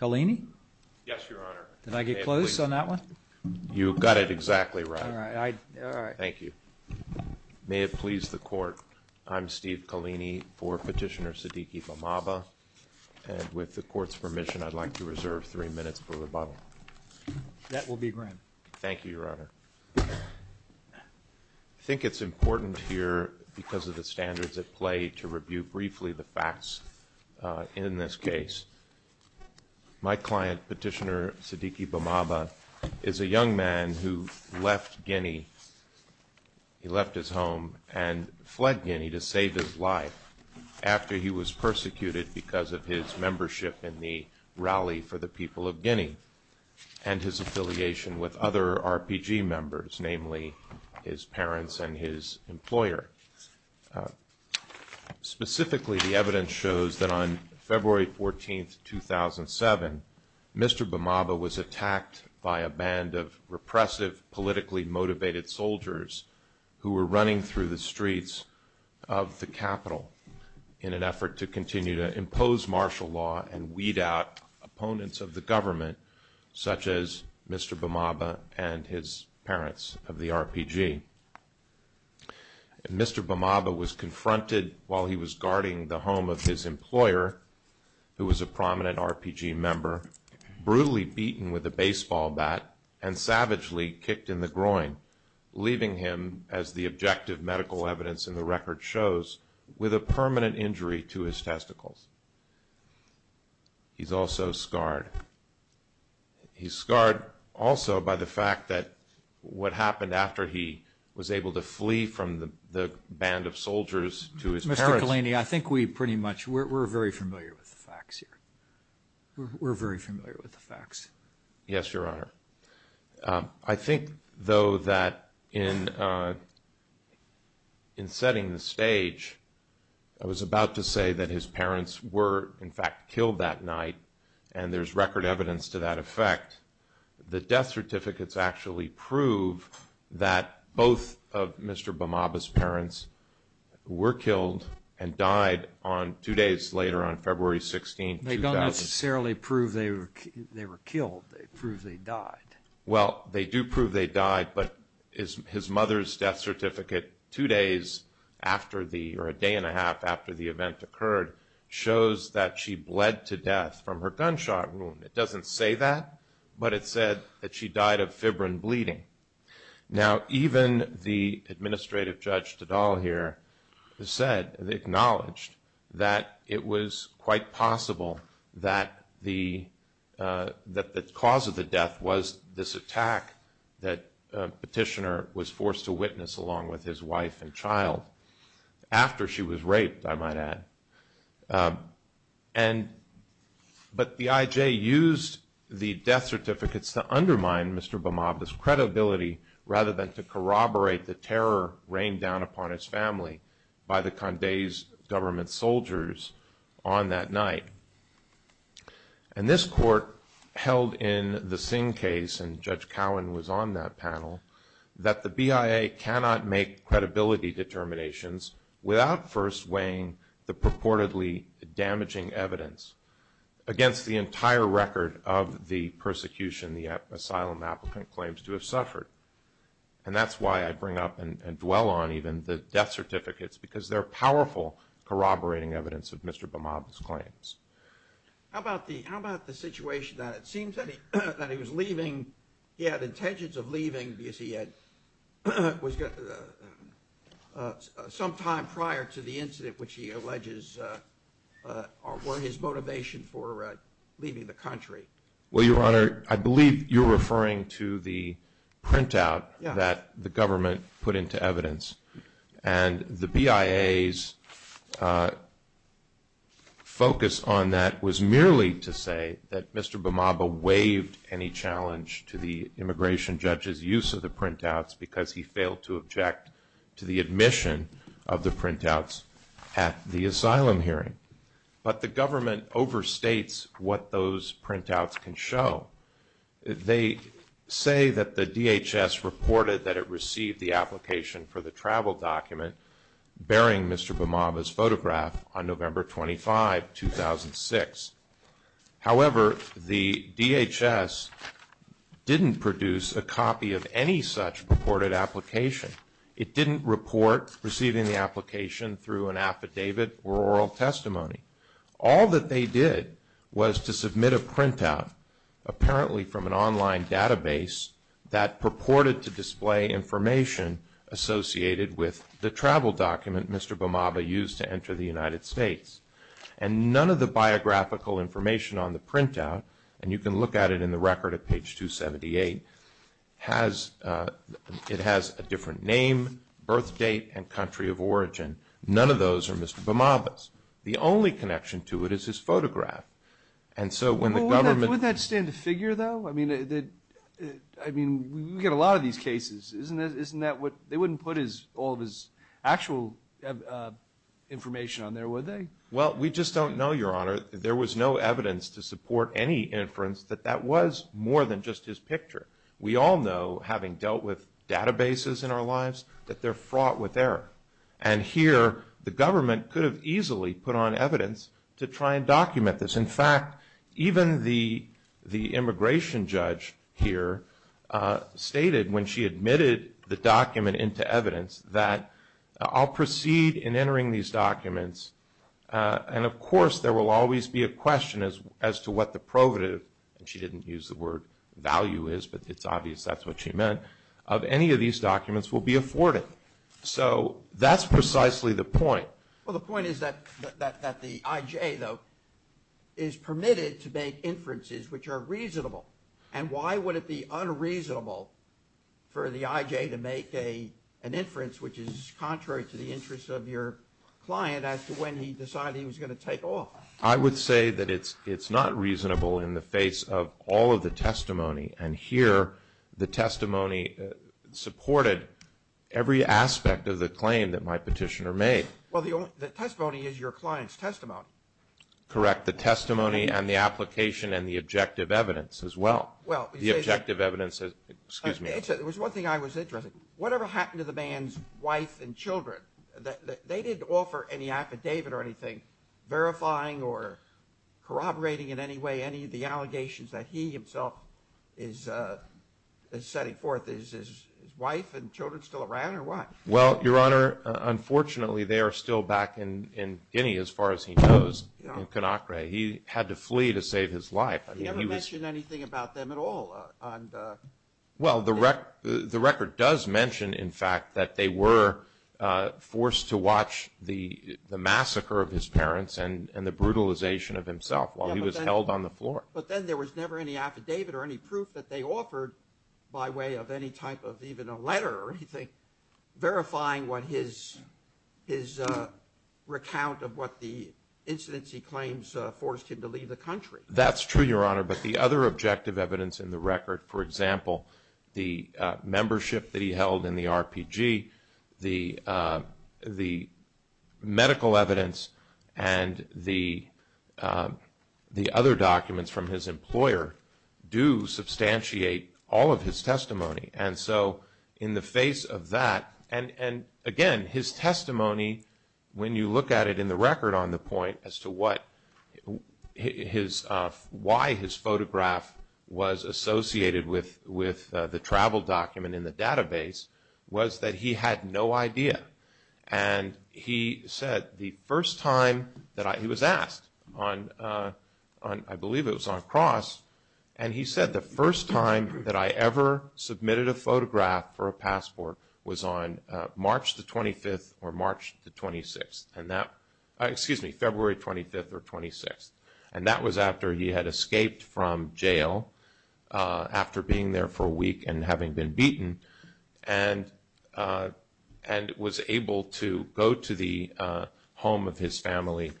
Kalini? Yes, Your Honor. Did I get close on that one? You got it exactly right. All right. Thank you. May it please the Court, I'm Steve Kalini for Petitioner Siddiqui Bamaba and with the Court's permission I'd like to reserve three minutes for rebuttal. That will be grand. Thank you, Your Honor. I think it's important here because of the standards at play to review briefly the facts in this case. My client, Petitioner Siddiqui Bamaba, is a young man who left Guinea. He left his home and fled Guinea to save his life after he was persecuted because of his membership in the rally for the people of Guinea and his affiliation with other RPG members, namely his parents and his employer. Specifically, the evidence shows that on February 14, 2007, Mr. Bamaba was attacked by a band of repressive, politically motivated soldiers who were running through the streets of the capital in an effort to continue to impose martial law and weed out opponents of the government, such as Mr. Bamaba and his parents of the RPG. Mr. Bamaba was confronted while he was guarding the home of his employer, who was a prominent RPG member, brutally beaten with a baseball bat and savagely kicked in the groin, leaving him, as the objective medical evidence in the record shows, with a permanent injury to his testicles. He's also scarred. He's scarred also by the fact that what happened after he was able to flee from the band of soldiers to his parents. Mr. Kalani, I think we pretty much, we're very familiar with the facts here. We're very familiar with the facts. Yes, Your Honor. I think, though, that in setting the stage, I was about to say that his parents were, in fact, killed that in effect, the death certificates actually prove that both of Mr. Bamaba's parents were killed and died on two days later, on February 16, 2000. They don't necessarily prove they were killed, they prove they died. Well, they do prove they died, but his mother's death certificate, two days after the, or a day and a half after the event occurred, shows that she bled to death from her gunshot wound. It doesn't say that, but it said that she died of fibrin bleeding. Now, even the administrative judge, Tadal, here, said, acknowledged, that it was quite possible that the cause of the death was this attack that Petitioner was forced to witness along with his wife and to undermine Mr. Bamaba's credibility rather than to corroborate the terror rained down upon his family by the Condé's government soldiers on that night. And this court held in the Singh case, and Judge Cowen was on that panel, that the BIA cannot make credibility determinations without first weighing the purportedly damaging evidence against the persecution the asylum applicant claims to have suffered. And that's why I bring up and dwell on even the death certificates, because they're powerful corroborating evidence of Mr. Bamaba's claims. How about the situation that it seems that he was leaving, he had intentions of leaving because he had, some time prior to the incident which he alleges were his motivation for leaving the country. Well, Your Honor, I believe you're referring to the printout that the government put into evidence. And the BIA's focus on that was merely to say that Mr. Bamaba waived any challenge to the immigration judge's use of the printouts because he failed to object to the admission of the printouts at the asylum hearing. But the government overstates what those printouts can show. They say that the DHS reported that it received the application for the travel document bearing Mr. Bamaba's photograph on November 25, 2006. However, the DHS didn't produce a copy of any such reported application. It didn't report receiving the application through an affidavit or oral testimony. All that they did was to submit a printout, apparently from an online database, that purported to display information associated with the travel document Mr. Bamaba used to enter the United States. And none of the biographical information on the printout, and you can look at it in the record at page 278, it has a different name, birth date, and country of origin. None of those are Mr. Bamaba's. The only connection to it is his photograph. And so when the government... Well, wouldn't that stand to figure, though? I mean, we get a lot of these cases. Isn't that what they wouldn't put all of his actual information on there, would they? Well, we just don't know, Your Honor. There was no evidence to support any inference that that was more than just his picture. We all know, having dealt with databases in our lives, that they're fraught with error. And here, the government could have easily put on evidence to try and document this. In fact, even the immigration judge here stated when she admitted the document into evidence that, I'll proceed in entering these documents, and of course there will always be a question as to what the provative, and she didn't use the word value is, but it's obvious that's what she meant, of any of these documents will be afforded. So that's precisely the point. Well, the point is that the IJ, though, is permitted to make inferences which are reasonable. And why would it be unreasonable for the IJ to make an inference which is contrary to the interest of your client as to when he decided he was going to take off? I would say that it's not reasonable in the face of all of the testimony. And here, the testimony supported every aspect of the claim that my petitioner made. Correct. The testimony and the application and the objective evidence as well. The objective evidence, excuse me. There was one thing I was interested in. Whatever happened to the man's wife and children? They didn't offer any affidavit or anything verifying or corroborating in any way any of the allegations that he himself is setting forth. Is his wife and children still around or what? Well, Your Honor, unfortunately, they are still back in Guinea, as far as he knows, in Conakry. He had to flee to save his life. He never mentioned anything about them at all? Well, the record does mention, in fact, that they were forced to watch the massacre of his parents and the brutalization of himself while he was held on the floor. But then there was never any affidavit or any proof that they offered by way of any type of even a letter or anything verifying what his recount of what the incidents he claims forced him to leave the country. That's true, Your Honor, but the other objective evidence in the record, for example, the membership that he held in the RPG, the medical evidence and the other documents from his employer do substantiate all of his testimony. And so in the face of that, and again, his testimony, when you look at it in the record on the point as to why his photograph was associated with the travel document in the database, was that he had no idea. And he said the first time that he was asked, I believe it was on cross, and he said the first time that I ever submitted a photograph for a passport was on March the 25th or March the 26th, excuse me, February 25th or 26th. And that was after he had escaped from jail after being there for a week and having been beaten and was able to go to the home of his family,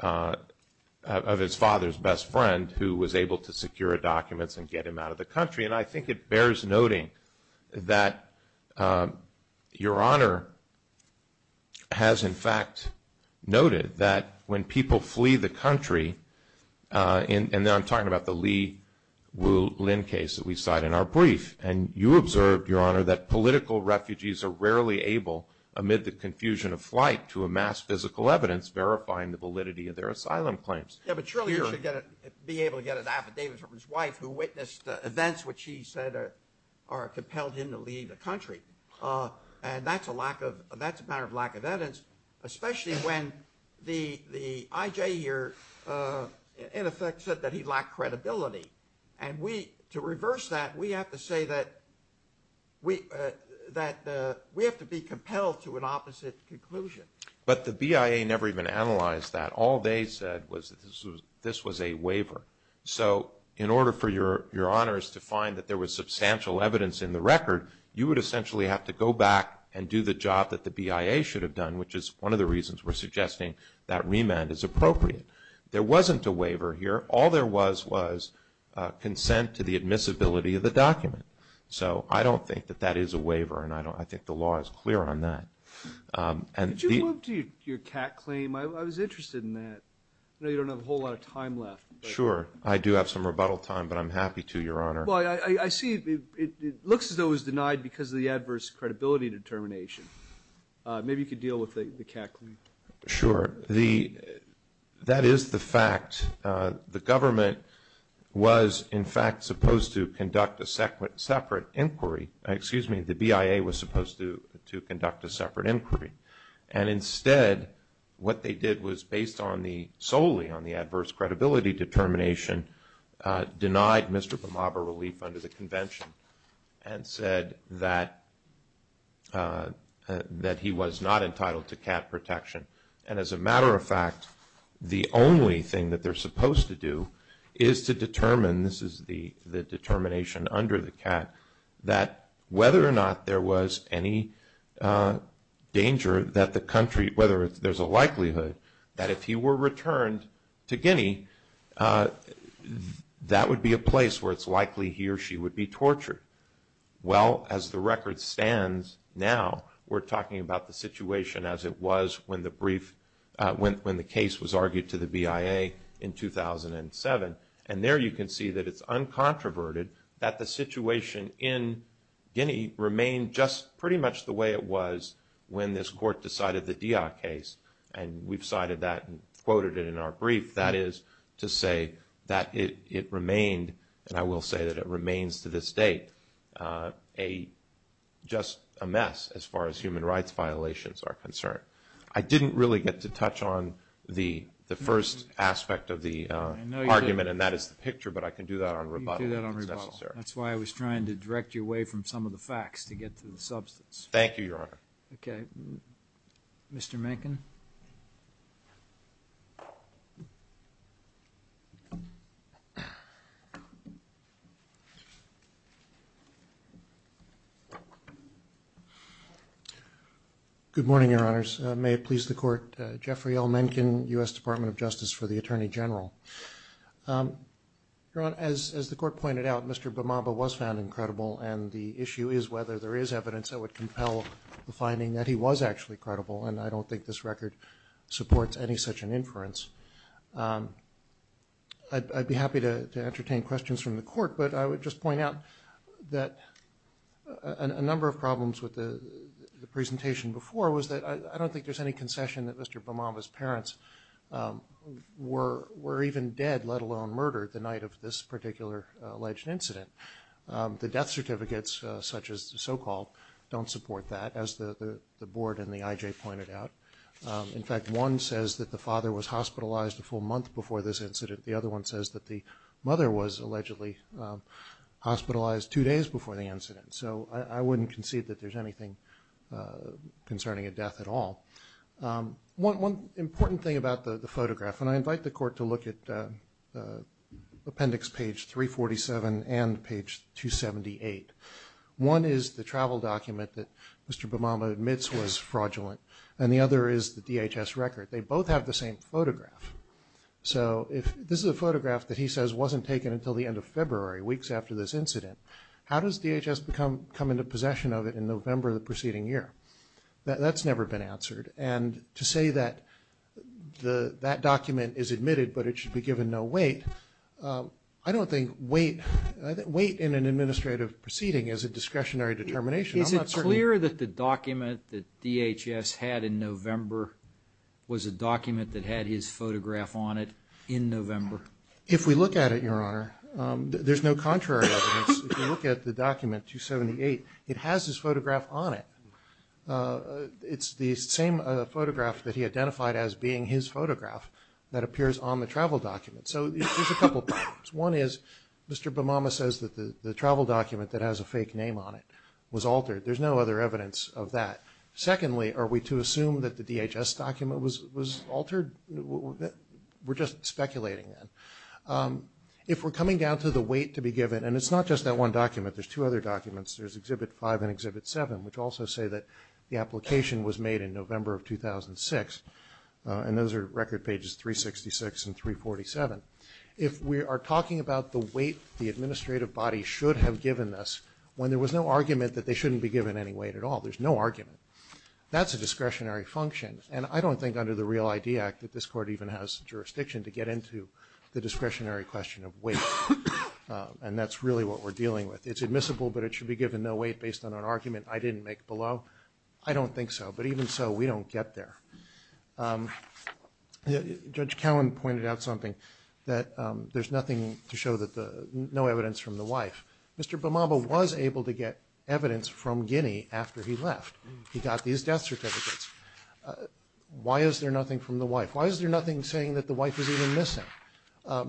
of his father's best friend, who was able to secure documents and get him out of the country. And I think it bears noting that Your Honor has in fact noted that when people flee the country, and I'm talking about the Lee-Wu Lin case that we cite in our brief, and you observed, Your Honor, that political refugees are rarely able amid the confusion of flight to amass physical evidence verifying the validity of their asylum claims. Yeah, but surely you should be able to get an affidavit from his wife who witnessed the events And that's a matter of lack of evidence, especially when the IJ here in effect said that he lacked credibility. And to reverse that, we have to say that we have to be compelled to an opposite conclusion. But the BIA never even analyzed that. All they said was that this was a waiver. So in order for Your Honors to find that there was substantial evidence in the record, you would essentially have to go back and do the job that the BIA should have done, which is one of the reasons we're suggesting that remand is appropriate. There wasn't a waiver here. All there was was consent to the admissibility of the document. So I don't think that that is a waiver, and I think the law is clear on that. Did you move to your cat claim? I was interested in that. I know you don't have a whole lot of time left. Sure. I do have some rebuttal time, but I'm happy to, Your Honor. Well, I see it looks as though it was denied because of the adverse credibility determination. Maybe you could deal with the cat claim. Sure. That is the fact. The government was, in fact, supposed to conduct a separate inquiry. Excuse me. The BIA was supposed to conduct a separate inquiry. And instead, what they did was, based solely on the adverse credibility determination, denied Mr. Bamaba relief under the convention and said that he was not entitled to cat protection. And as a matter of fact, the only thing that they're supposed to do is to determine, this is the determination under the cat, that whether or not there was any danger that the country, whether there's a likelihood that if he were returned to Guinea, that would be a place where it's likely he or she would be tortured. Well, as the record stands now, we're talking about the situation as it was when the brief, when the case was argued to the BIA in 2007. And there you can see that it's uncontroverted that the situation in Guinea remained just pretty much the way it was when this court decided the Diak case. And we've cited that and quoted it in our brief. That is to say that it remained, and I will say that it remains to this date, just a mess as far as human rights violations are concerned. I didn't really get to touch on the first aspect of the argument, and that is the picture, but I can do that on rebuttal if it's necessary. You can do that on rebuttal. That's why I was trying to direct you away from some of the facts to get to the substance. Thank you, Your Honor. Okay. Mr. Mencken? Good morning, Your Honors. May it please the Court. Jeffrey L. Mencken, U.S. Department of Justice for the Attorney General. Your Honor, as the Court pointed out, Mr. Bamaba was found incredible, and the issue is whether there is evidence that would compel the finding that he was actually credible, and I don't think this record supports any such an inference. I'd be happy to entertain questions from the Court, but I would just point out that a number of problems with the presentation before was that I don't think there's any concession that Mr. Bamaba's parents were even dead, let alone murdered, the night of this particular alleged incident. The death certificates, such as the so-called, don't support that, as the Board and the IJ pointed out. In fact, one says that the father was hospitalized a full month before this incident. The other one says that the mother was allegedly hospitalized two days before the incident. So I wouldn't concede that there's anything concerning a death at all. One important thing about the photograph, and I invite the Court to look at appendix page 347 and page 278. One is the travel document that Mr. Bamaba admits was fraudulent, and the other is the DHS record. They both have the same photograph. So if this is a photograph that he says wasn't taken until the end of February, weeks after this incident, how does DHS come into possession of it in November of the preceding year? That's never been answered. And to say that that document is admitted but it should be given no weight, I don't think weight in an administrative proceeding is a discretionary determination. Is it clear that the document that DHS had in November was a document that had his photograph on it in November? If we look at it, Your Honor, there's no contrary evidence. If you look at the document, 278, it has his photograph on it. It's the same photograph that he identified as being his photograph that appears on the travel document. So there's a couple of problems. One is Mr. Bamama says that the travel document that has a fake name on it was altered. There's no other evidence of that. Secondly, are we to assume that the DHS document was altered? We're just speculating then. If we're coming down to the weight to be given, and it's not just that one document. There's two other documents. There's Exhibit 5 and Exhibit 7, which also say that the application was made in November of 2006. And those are record pages 366 and 347. If we are talking about the weight the administrative body should have given us, when there was no argument that they shouldn't be given any weight at all, there's no argument, that's a discretionary function. And I don't think under the Real ID Act that this Court even has jurisdiction to get into the discretionary question of weight. And that's really what we're dealing with. It's admissible, but it should be given no weight based on an argument I didn't make below. I don't think so. But even so, we don't get there. Judge Cowen pointed out something, that there's nothing to show that the no evidence from the wife. Mr. Bamama was able to get evidence from Guinea after he left. He got these death certificates. Why is there nothing from the wife? Why is there nothing saying that the wife is even missing?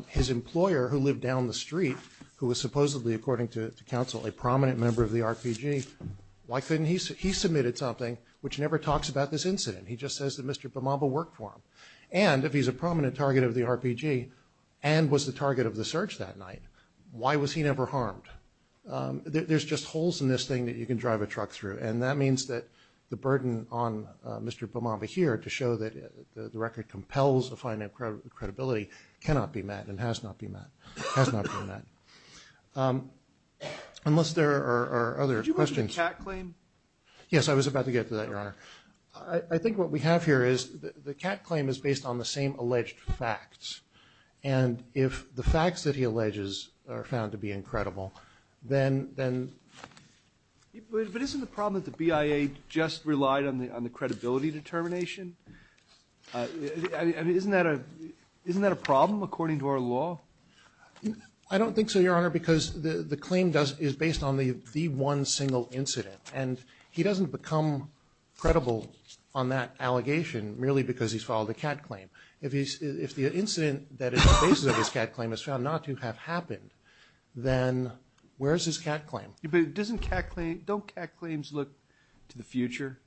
His employer who lived down the street, who was supposedly, according to counsel, a prominent member of the RPG, why couldn't he? He submitted something which never talks about this incident. He just says that Mr. Bamama worked for him. And if he's a prominent target of the RPG, and was the target of the search that night, why was he never harmed? There's just holes in this thing that you can drive a truck through. And that means that the burden on Mr. Bamama here to show that the record compels the finding of credibility cannot be met and has not been met. Unless there are other questions. Did you mention the cat claim? Yes, I was about to get to that, Your Honor. I think what we have here is the cat claim is based on the same alleged facts. And if the facts that he alleges are found to be incredible, then... But isn't the problem that the BIA just relied on the credibility determination? I mean, isn't that a problem according to our law? I don't think so, Your Honor, because the claim is based on the one single incident. And he doesn't become credible on that allegation merely because he's filed a cat claim. If the incident that is the basis of his cat claim is found not to have happened, then where is his cat claim? But don't cat claims look to the future?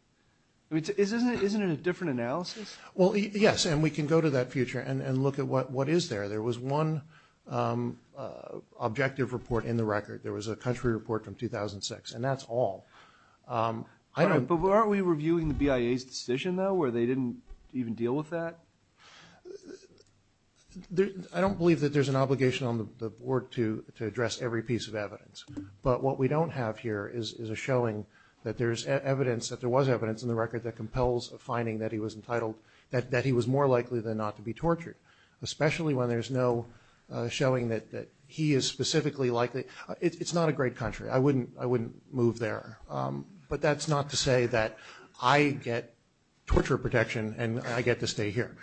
I mean, isn't it a different analysis? Well, yes, and we can go to that future and look at what is there. There was one objective report in the record. There was a country report from 2006, and that's all. But aren't we reviewing the BIA's decision, though, where they didn't even deal with that? I don't believe that there's an obligation on the Board to address every piece of evidence. But what we don't have here is a showing that there is evidence, that there was evidence in the record that compels a finding that he was entitled, that he was more likely than not to be tortured, especially when there's no showing that he is specifically likely. It's not a great country. I wouldn't move there. But that's not to say that I get torture protection and I get to stay here.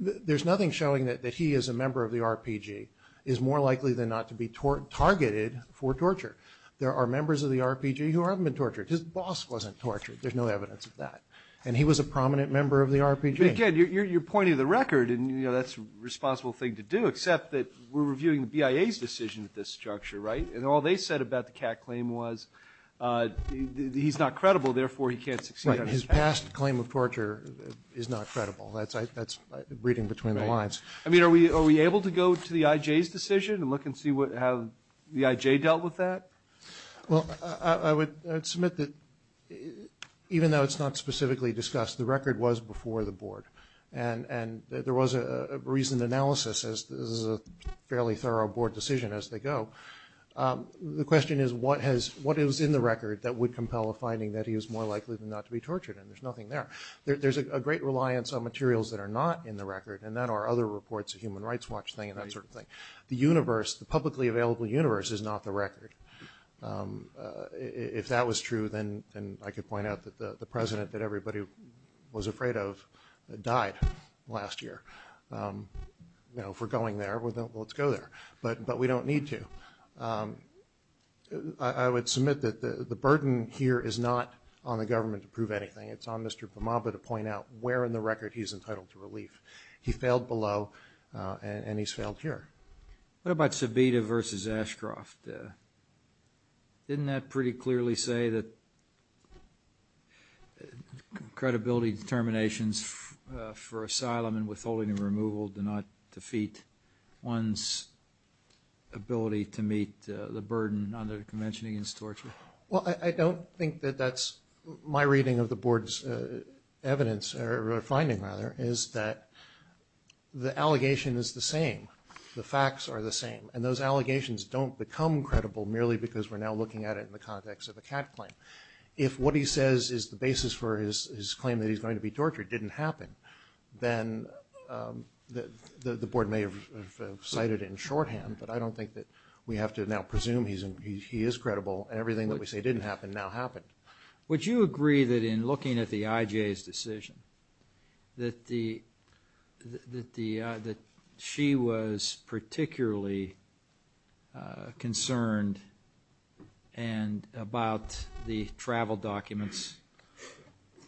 There's nothing showing that he as a member of the RPG is more likely than not to be targeted for torture. There are members of the RPG who haven't been tortured. His boss wasn't tortured. There's no evidence of that. And he was a prominent member of the RPG. But again, you're pointing to the record, and that's a responsible thing to do, except that we're reviewing the BIA's decision at this juncture, right? And all they said about the cat claim was he's not credible, therefore he can't succeed on his path. The last claim of torture is not credible. That's reading between the lines. I mean, are we able to go to the IJ's decision and look and see how the IJ dealt with that? Well, I would submit that even though it's not specifically discussed, the record was before the board, and there was a reasoned analysis as this is a fairly thorough board decision as they go. The question is what is in the record that would compel a finding that he was more likely than not to be tortured, and there's nothing there. There's a great reliance on materials that are not in the record, and that are other reports, the Human Rights Watch thing and that sort of thing. The universe, the publicly available universe is not the record. If that was true, then I could point out that the president that everybody was afraid of died last year. You know, if we're going there, well, let's go there, but we don't need to. I would submit that the burden here is not on the government to prove anything. It's on Mr. Bhamaba to point out where in the record he's entitled to relief. He failed below, and he's failed here. What about Sabita versus Ashcroft? Didn't that pretty clearly say that credibility determinations for asylum and withholding and removal do not defeat one's ability to meet the burden under the Convention against Torture? Well, I don't think that that's my reading of the board's evidence or finding, rather, is that the allegation is the same. The facts are the same, and those allegations don't become credible merely because we're now looking at it in the context of a CAT claim. If what he says is the basis for his claim that he's going to be tortured didn't happen, then the board may have cited it in shorthand, but I don't think that we have to now presume he is credible, and everything that we say didn't happen now happened. Would you agree that in looking at the IJ's decision that she was particularly concerned about the travel documents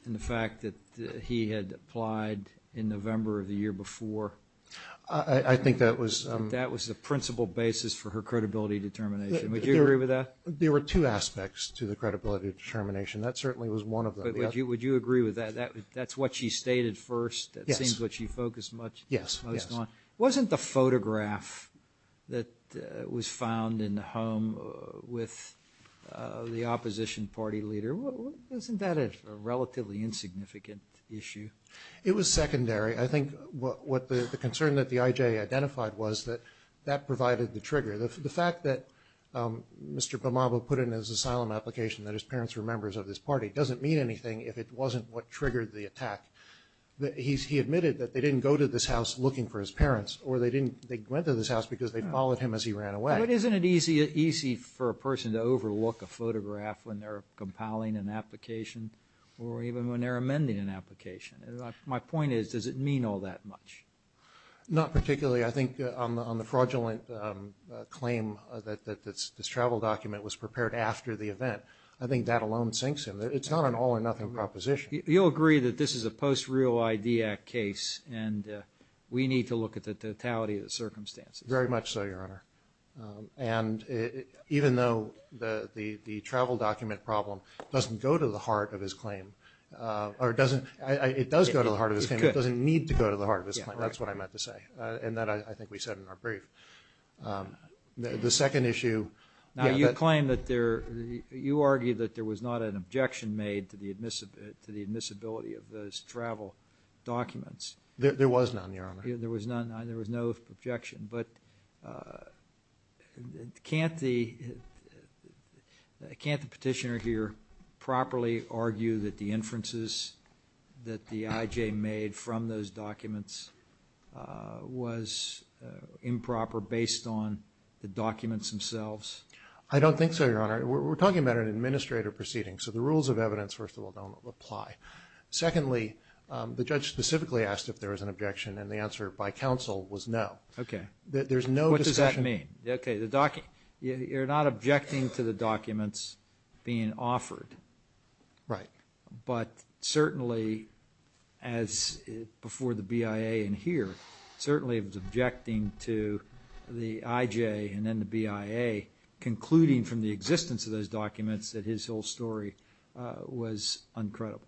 and the fact that he had applied in November of the year before? I think that was... That was the principal basis for her credibility determination. Would you agree with that? There were two aspects to the credibility determination. That certainly was one of them. Would you agree with that? That's what she stated first. It seems like she focused most on... Yes. Wasn't the photograph that was found in the home with the opposition party leader, wasn't that a relatively insignificant issue? It was secondary. I think the concern that the IJ identified was that that provided the trigger. The fact that Mr. Bamaba put in his asylum application that his parents were members of this party doesn't mean anything if it wasn't what triggered the attack. He admitted that they didn't go to this house looking for his parents, or they went to this house because they followed him as he ran away. But isn't it easy for a person to overlook a photograph when they're compiling an application or even when they're amending an application? My point is, does it mean all that much? Not particularly. I think on the fraudulent claim that this travel document was prepared after the event, I think that alone sinks him. It's not an all-or-nothing proposition. You'll agree that this is a post-real ID Act case, and we need to look at the totality of the circumstances. Very much so, Your Honor. And even though the travel document problem doesn't go to the heart of his claim, or it does go to the heart of his claim, it doesn't need to go to the heart of his claim. That's what I meant to say, and that I think we said in our brief. The second issue. Now, you claim that there – you argue that there was not an objection made to the admissibility of those travel documents. There was none, Your Honor. There was none. There was no objection. But can't the petitioner here properly argue that the inferences that the IJ made from those documents was improper based on the documents themselves? I don't think so, Your Honor. We're talking about an administrative proceeding, so the rules of evidence, first of all, don't apply. Secondly, the judge specifically asked if there was an objection, and the answer by counsel was no. Okay. There's no discussion. What does that mean? Okay. You're not objecting to the documents being offered. Right. But certainly, as before the BIA in here, certainly it was objecting to the IJ and then the BIA concluding from the existence of those documents that his whole story was uncredible.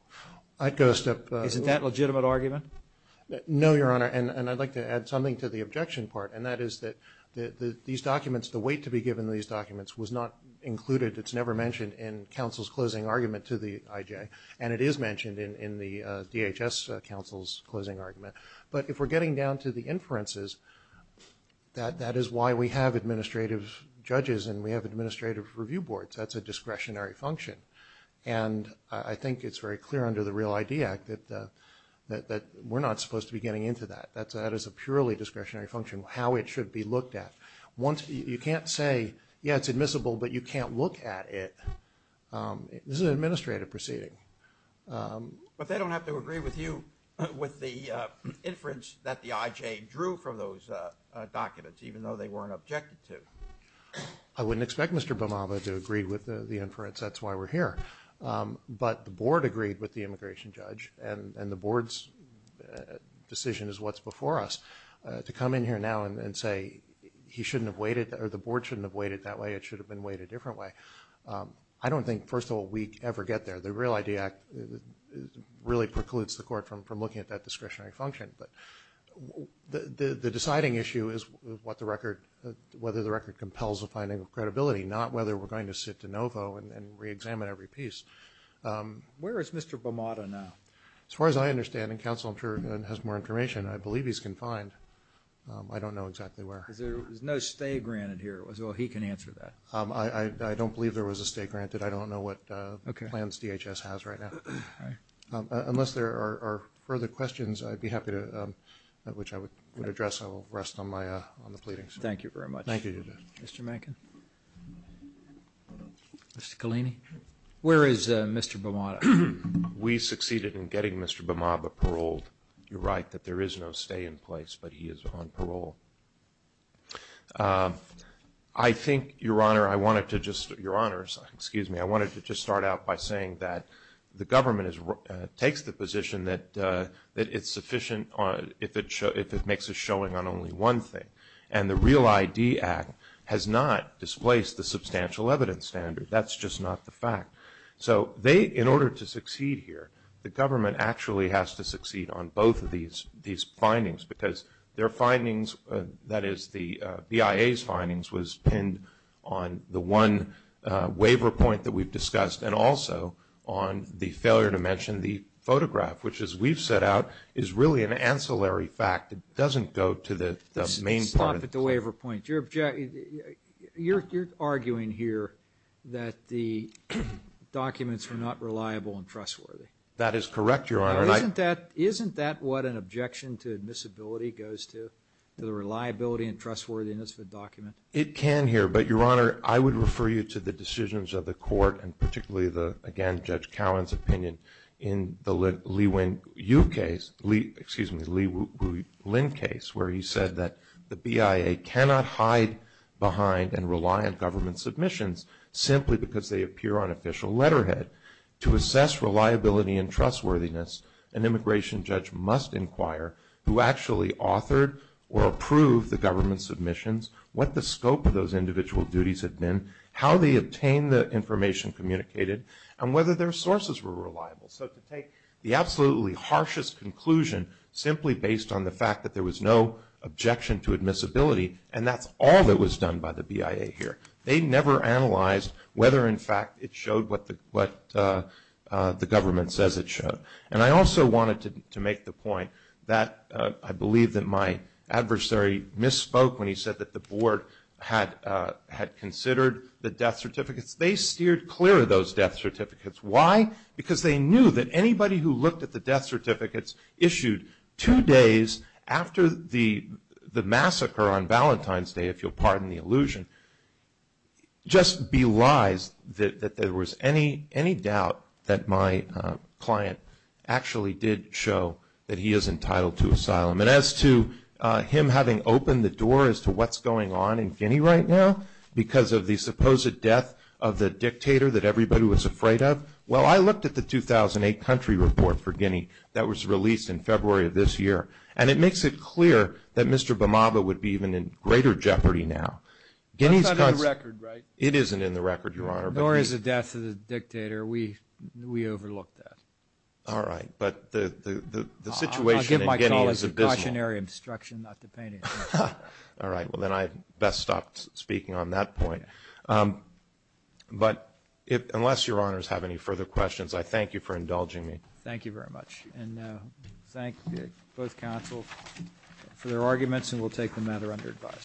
I'd go a step further. Isn't that a legitimate argument? No, Your Honor. And I'd like to add something to the objection part, and that is that these documents, the weight to be given to these documents was not included. It's never mentioned in counsel's closing argument to the IJ. And it is mentioned in the DHS counsel's closing argument. But if we're getting down to the inferences, that is why we have administrative judges and we have administrative review boards. That's a discretionary function. And I think it's very clear under the Real ID Act that we're not supposed to be getting into that. That is a purely discretionary function, how it should be looked at. You can't say, yeah, it's admissible, but you can't look at it. This is an administrative proceeding. But they don't have to agree with you with the inference that the IJ drew from those documents, even though they weren't objected to. I wouldn't expect Mr. Bamaba to agree with the inference. That's why we're here. But the board agreed with the immigration judge, and the board's decision is what's before us. To come in here now and say he shouldn't have weighted, or the board shouldn't have weighted that way, it should have been weighted a different way. I don't think, first of all, we ever get there. The Real ID Act really precludes the court from looking at that discretionary function. But the deciding issue is what the record, whether the record compels a finding of Where is Mr. Bamaba now? As far as I understand, and counsel has more information, I believe he's confined. I don't know exactly where. There's no stay granted here. Well, he can answer that. I don't believe there was a stay granted. I don't know what plans DHS has right now. Unless there are further questions, I'd be happy to, which I would address. I will rest on the pleadings. Thank you very much. Thank you. Thank you. Mr. Mankin? Mr. Collini? Where is Mr. Bamaba? We succeeded in getting Mr. Bamaba paroled. You're right that there is no stay in place, but he is on parole. I think, Your Honor, I wanted to just start out by saying that the government takes the position that it's sufficient if it makes a showing on only one thing. And the REAL-ID Act has not displaced the substantial evidence standard. That's just not the fact. So they, in order to succeed here, the government actually has to succeed on both of these findings, because their findings, that is the BIA's findings, was pinned on the one waiver point that we've discussed and also on the failure to mention the photograph, which, as we've set out, is really an ancillary fact. It doesn't go to the main part. Stop at the waiver point. You're arguing here that the documents were not reliable and trustworthy. That is correct, Your Honor. Isn't that what an objection to admissibility goes to, the reliability and trustworthiness of a document? It can here, but, Your Honor, I would refer you to the decisions of the court, and particularly, again, Judge Cowan's opinion in the Li-Wen Yu case, excuse me, Li-Wu Lin case, where he said that the BIA cannot hide behind and rely on government submissions simply because they appear on official letterhead. To assess reliability and trustworthiness, an immigration judge must inquire who actually authored or approved the government submissions, what the scope of those individual duties had been, how they obtained the information communicated, and whether their sources were reliable. So to take the absolutely harshest conclusion simply based on the fact that there was no objection to admissibility, and that's all that was done by the BIA here. They never analyzed whether, in fact, it showed what the government says it showed. And I also wanted to make the point that I believe that my adversary misspoke when he said that the board had considered the death certificates. They steered clear of those death certificates. Why? Because they knew that anybody who looked at the death certificates issued two days after the massacre on Valentine's Day, if you'll pardon the allusion, just belies that there was any doubt that my client actually did show that he is entitled to asylum. And as to him having opened the door as to what's going on in Guinea right now because of the supposed death of the dictator that everybody was afraid of, well, I looked at the 2008 country report for Guinea that was released in February of this year, and it makes it clear that Mr. Bhamaba would be even in greater jeopardy now. Guinea's constant – That's not in the record, right? It isn't in the record, Your Honor. Nor is the death of the dictator. We overlooked that. All right. But the situation in Guinea is abysmal. I'll give my call as a cautionary instruction not to paint it. All right. Well, then I best stop speaking on that point. But unless Your Honors have any further questions, I thank you for indulging me. Thank you very much. And thank both counsels for their arguments, and we'll take the matter under advice.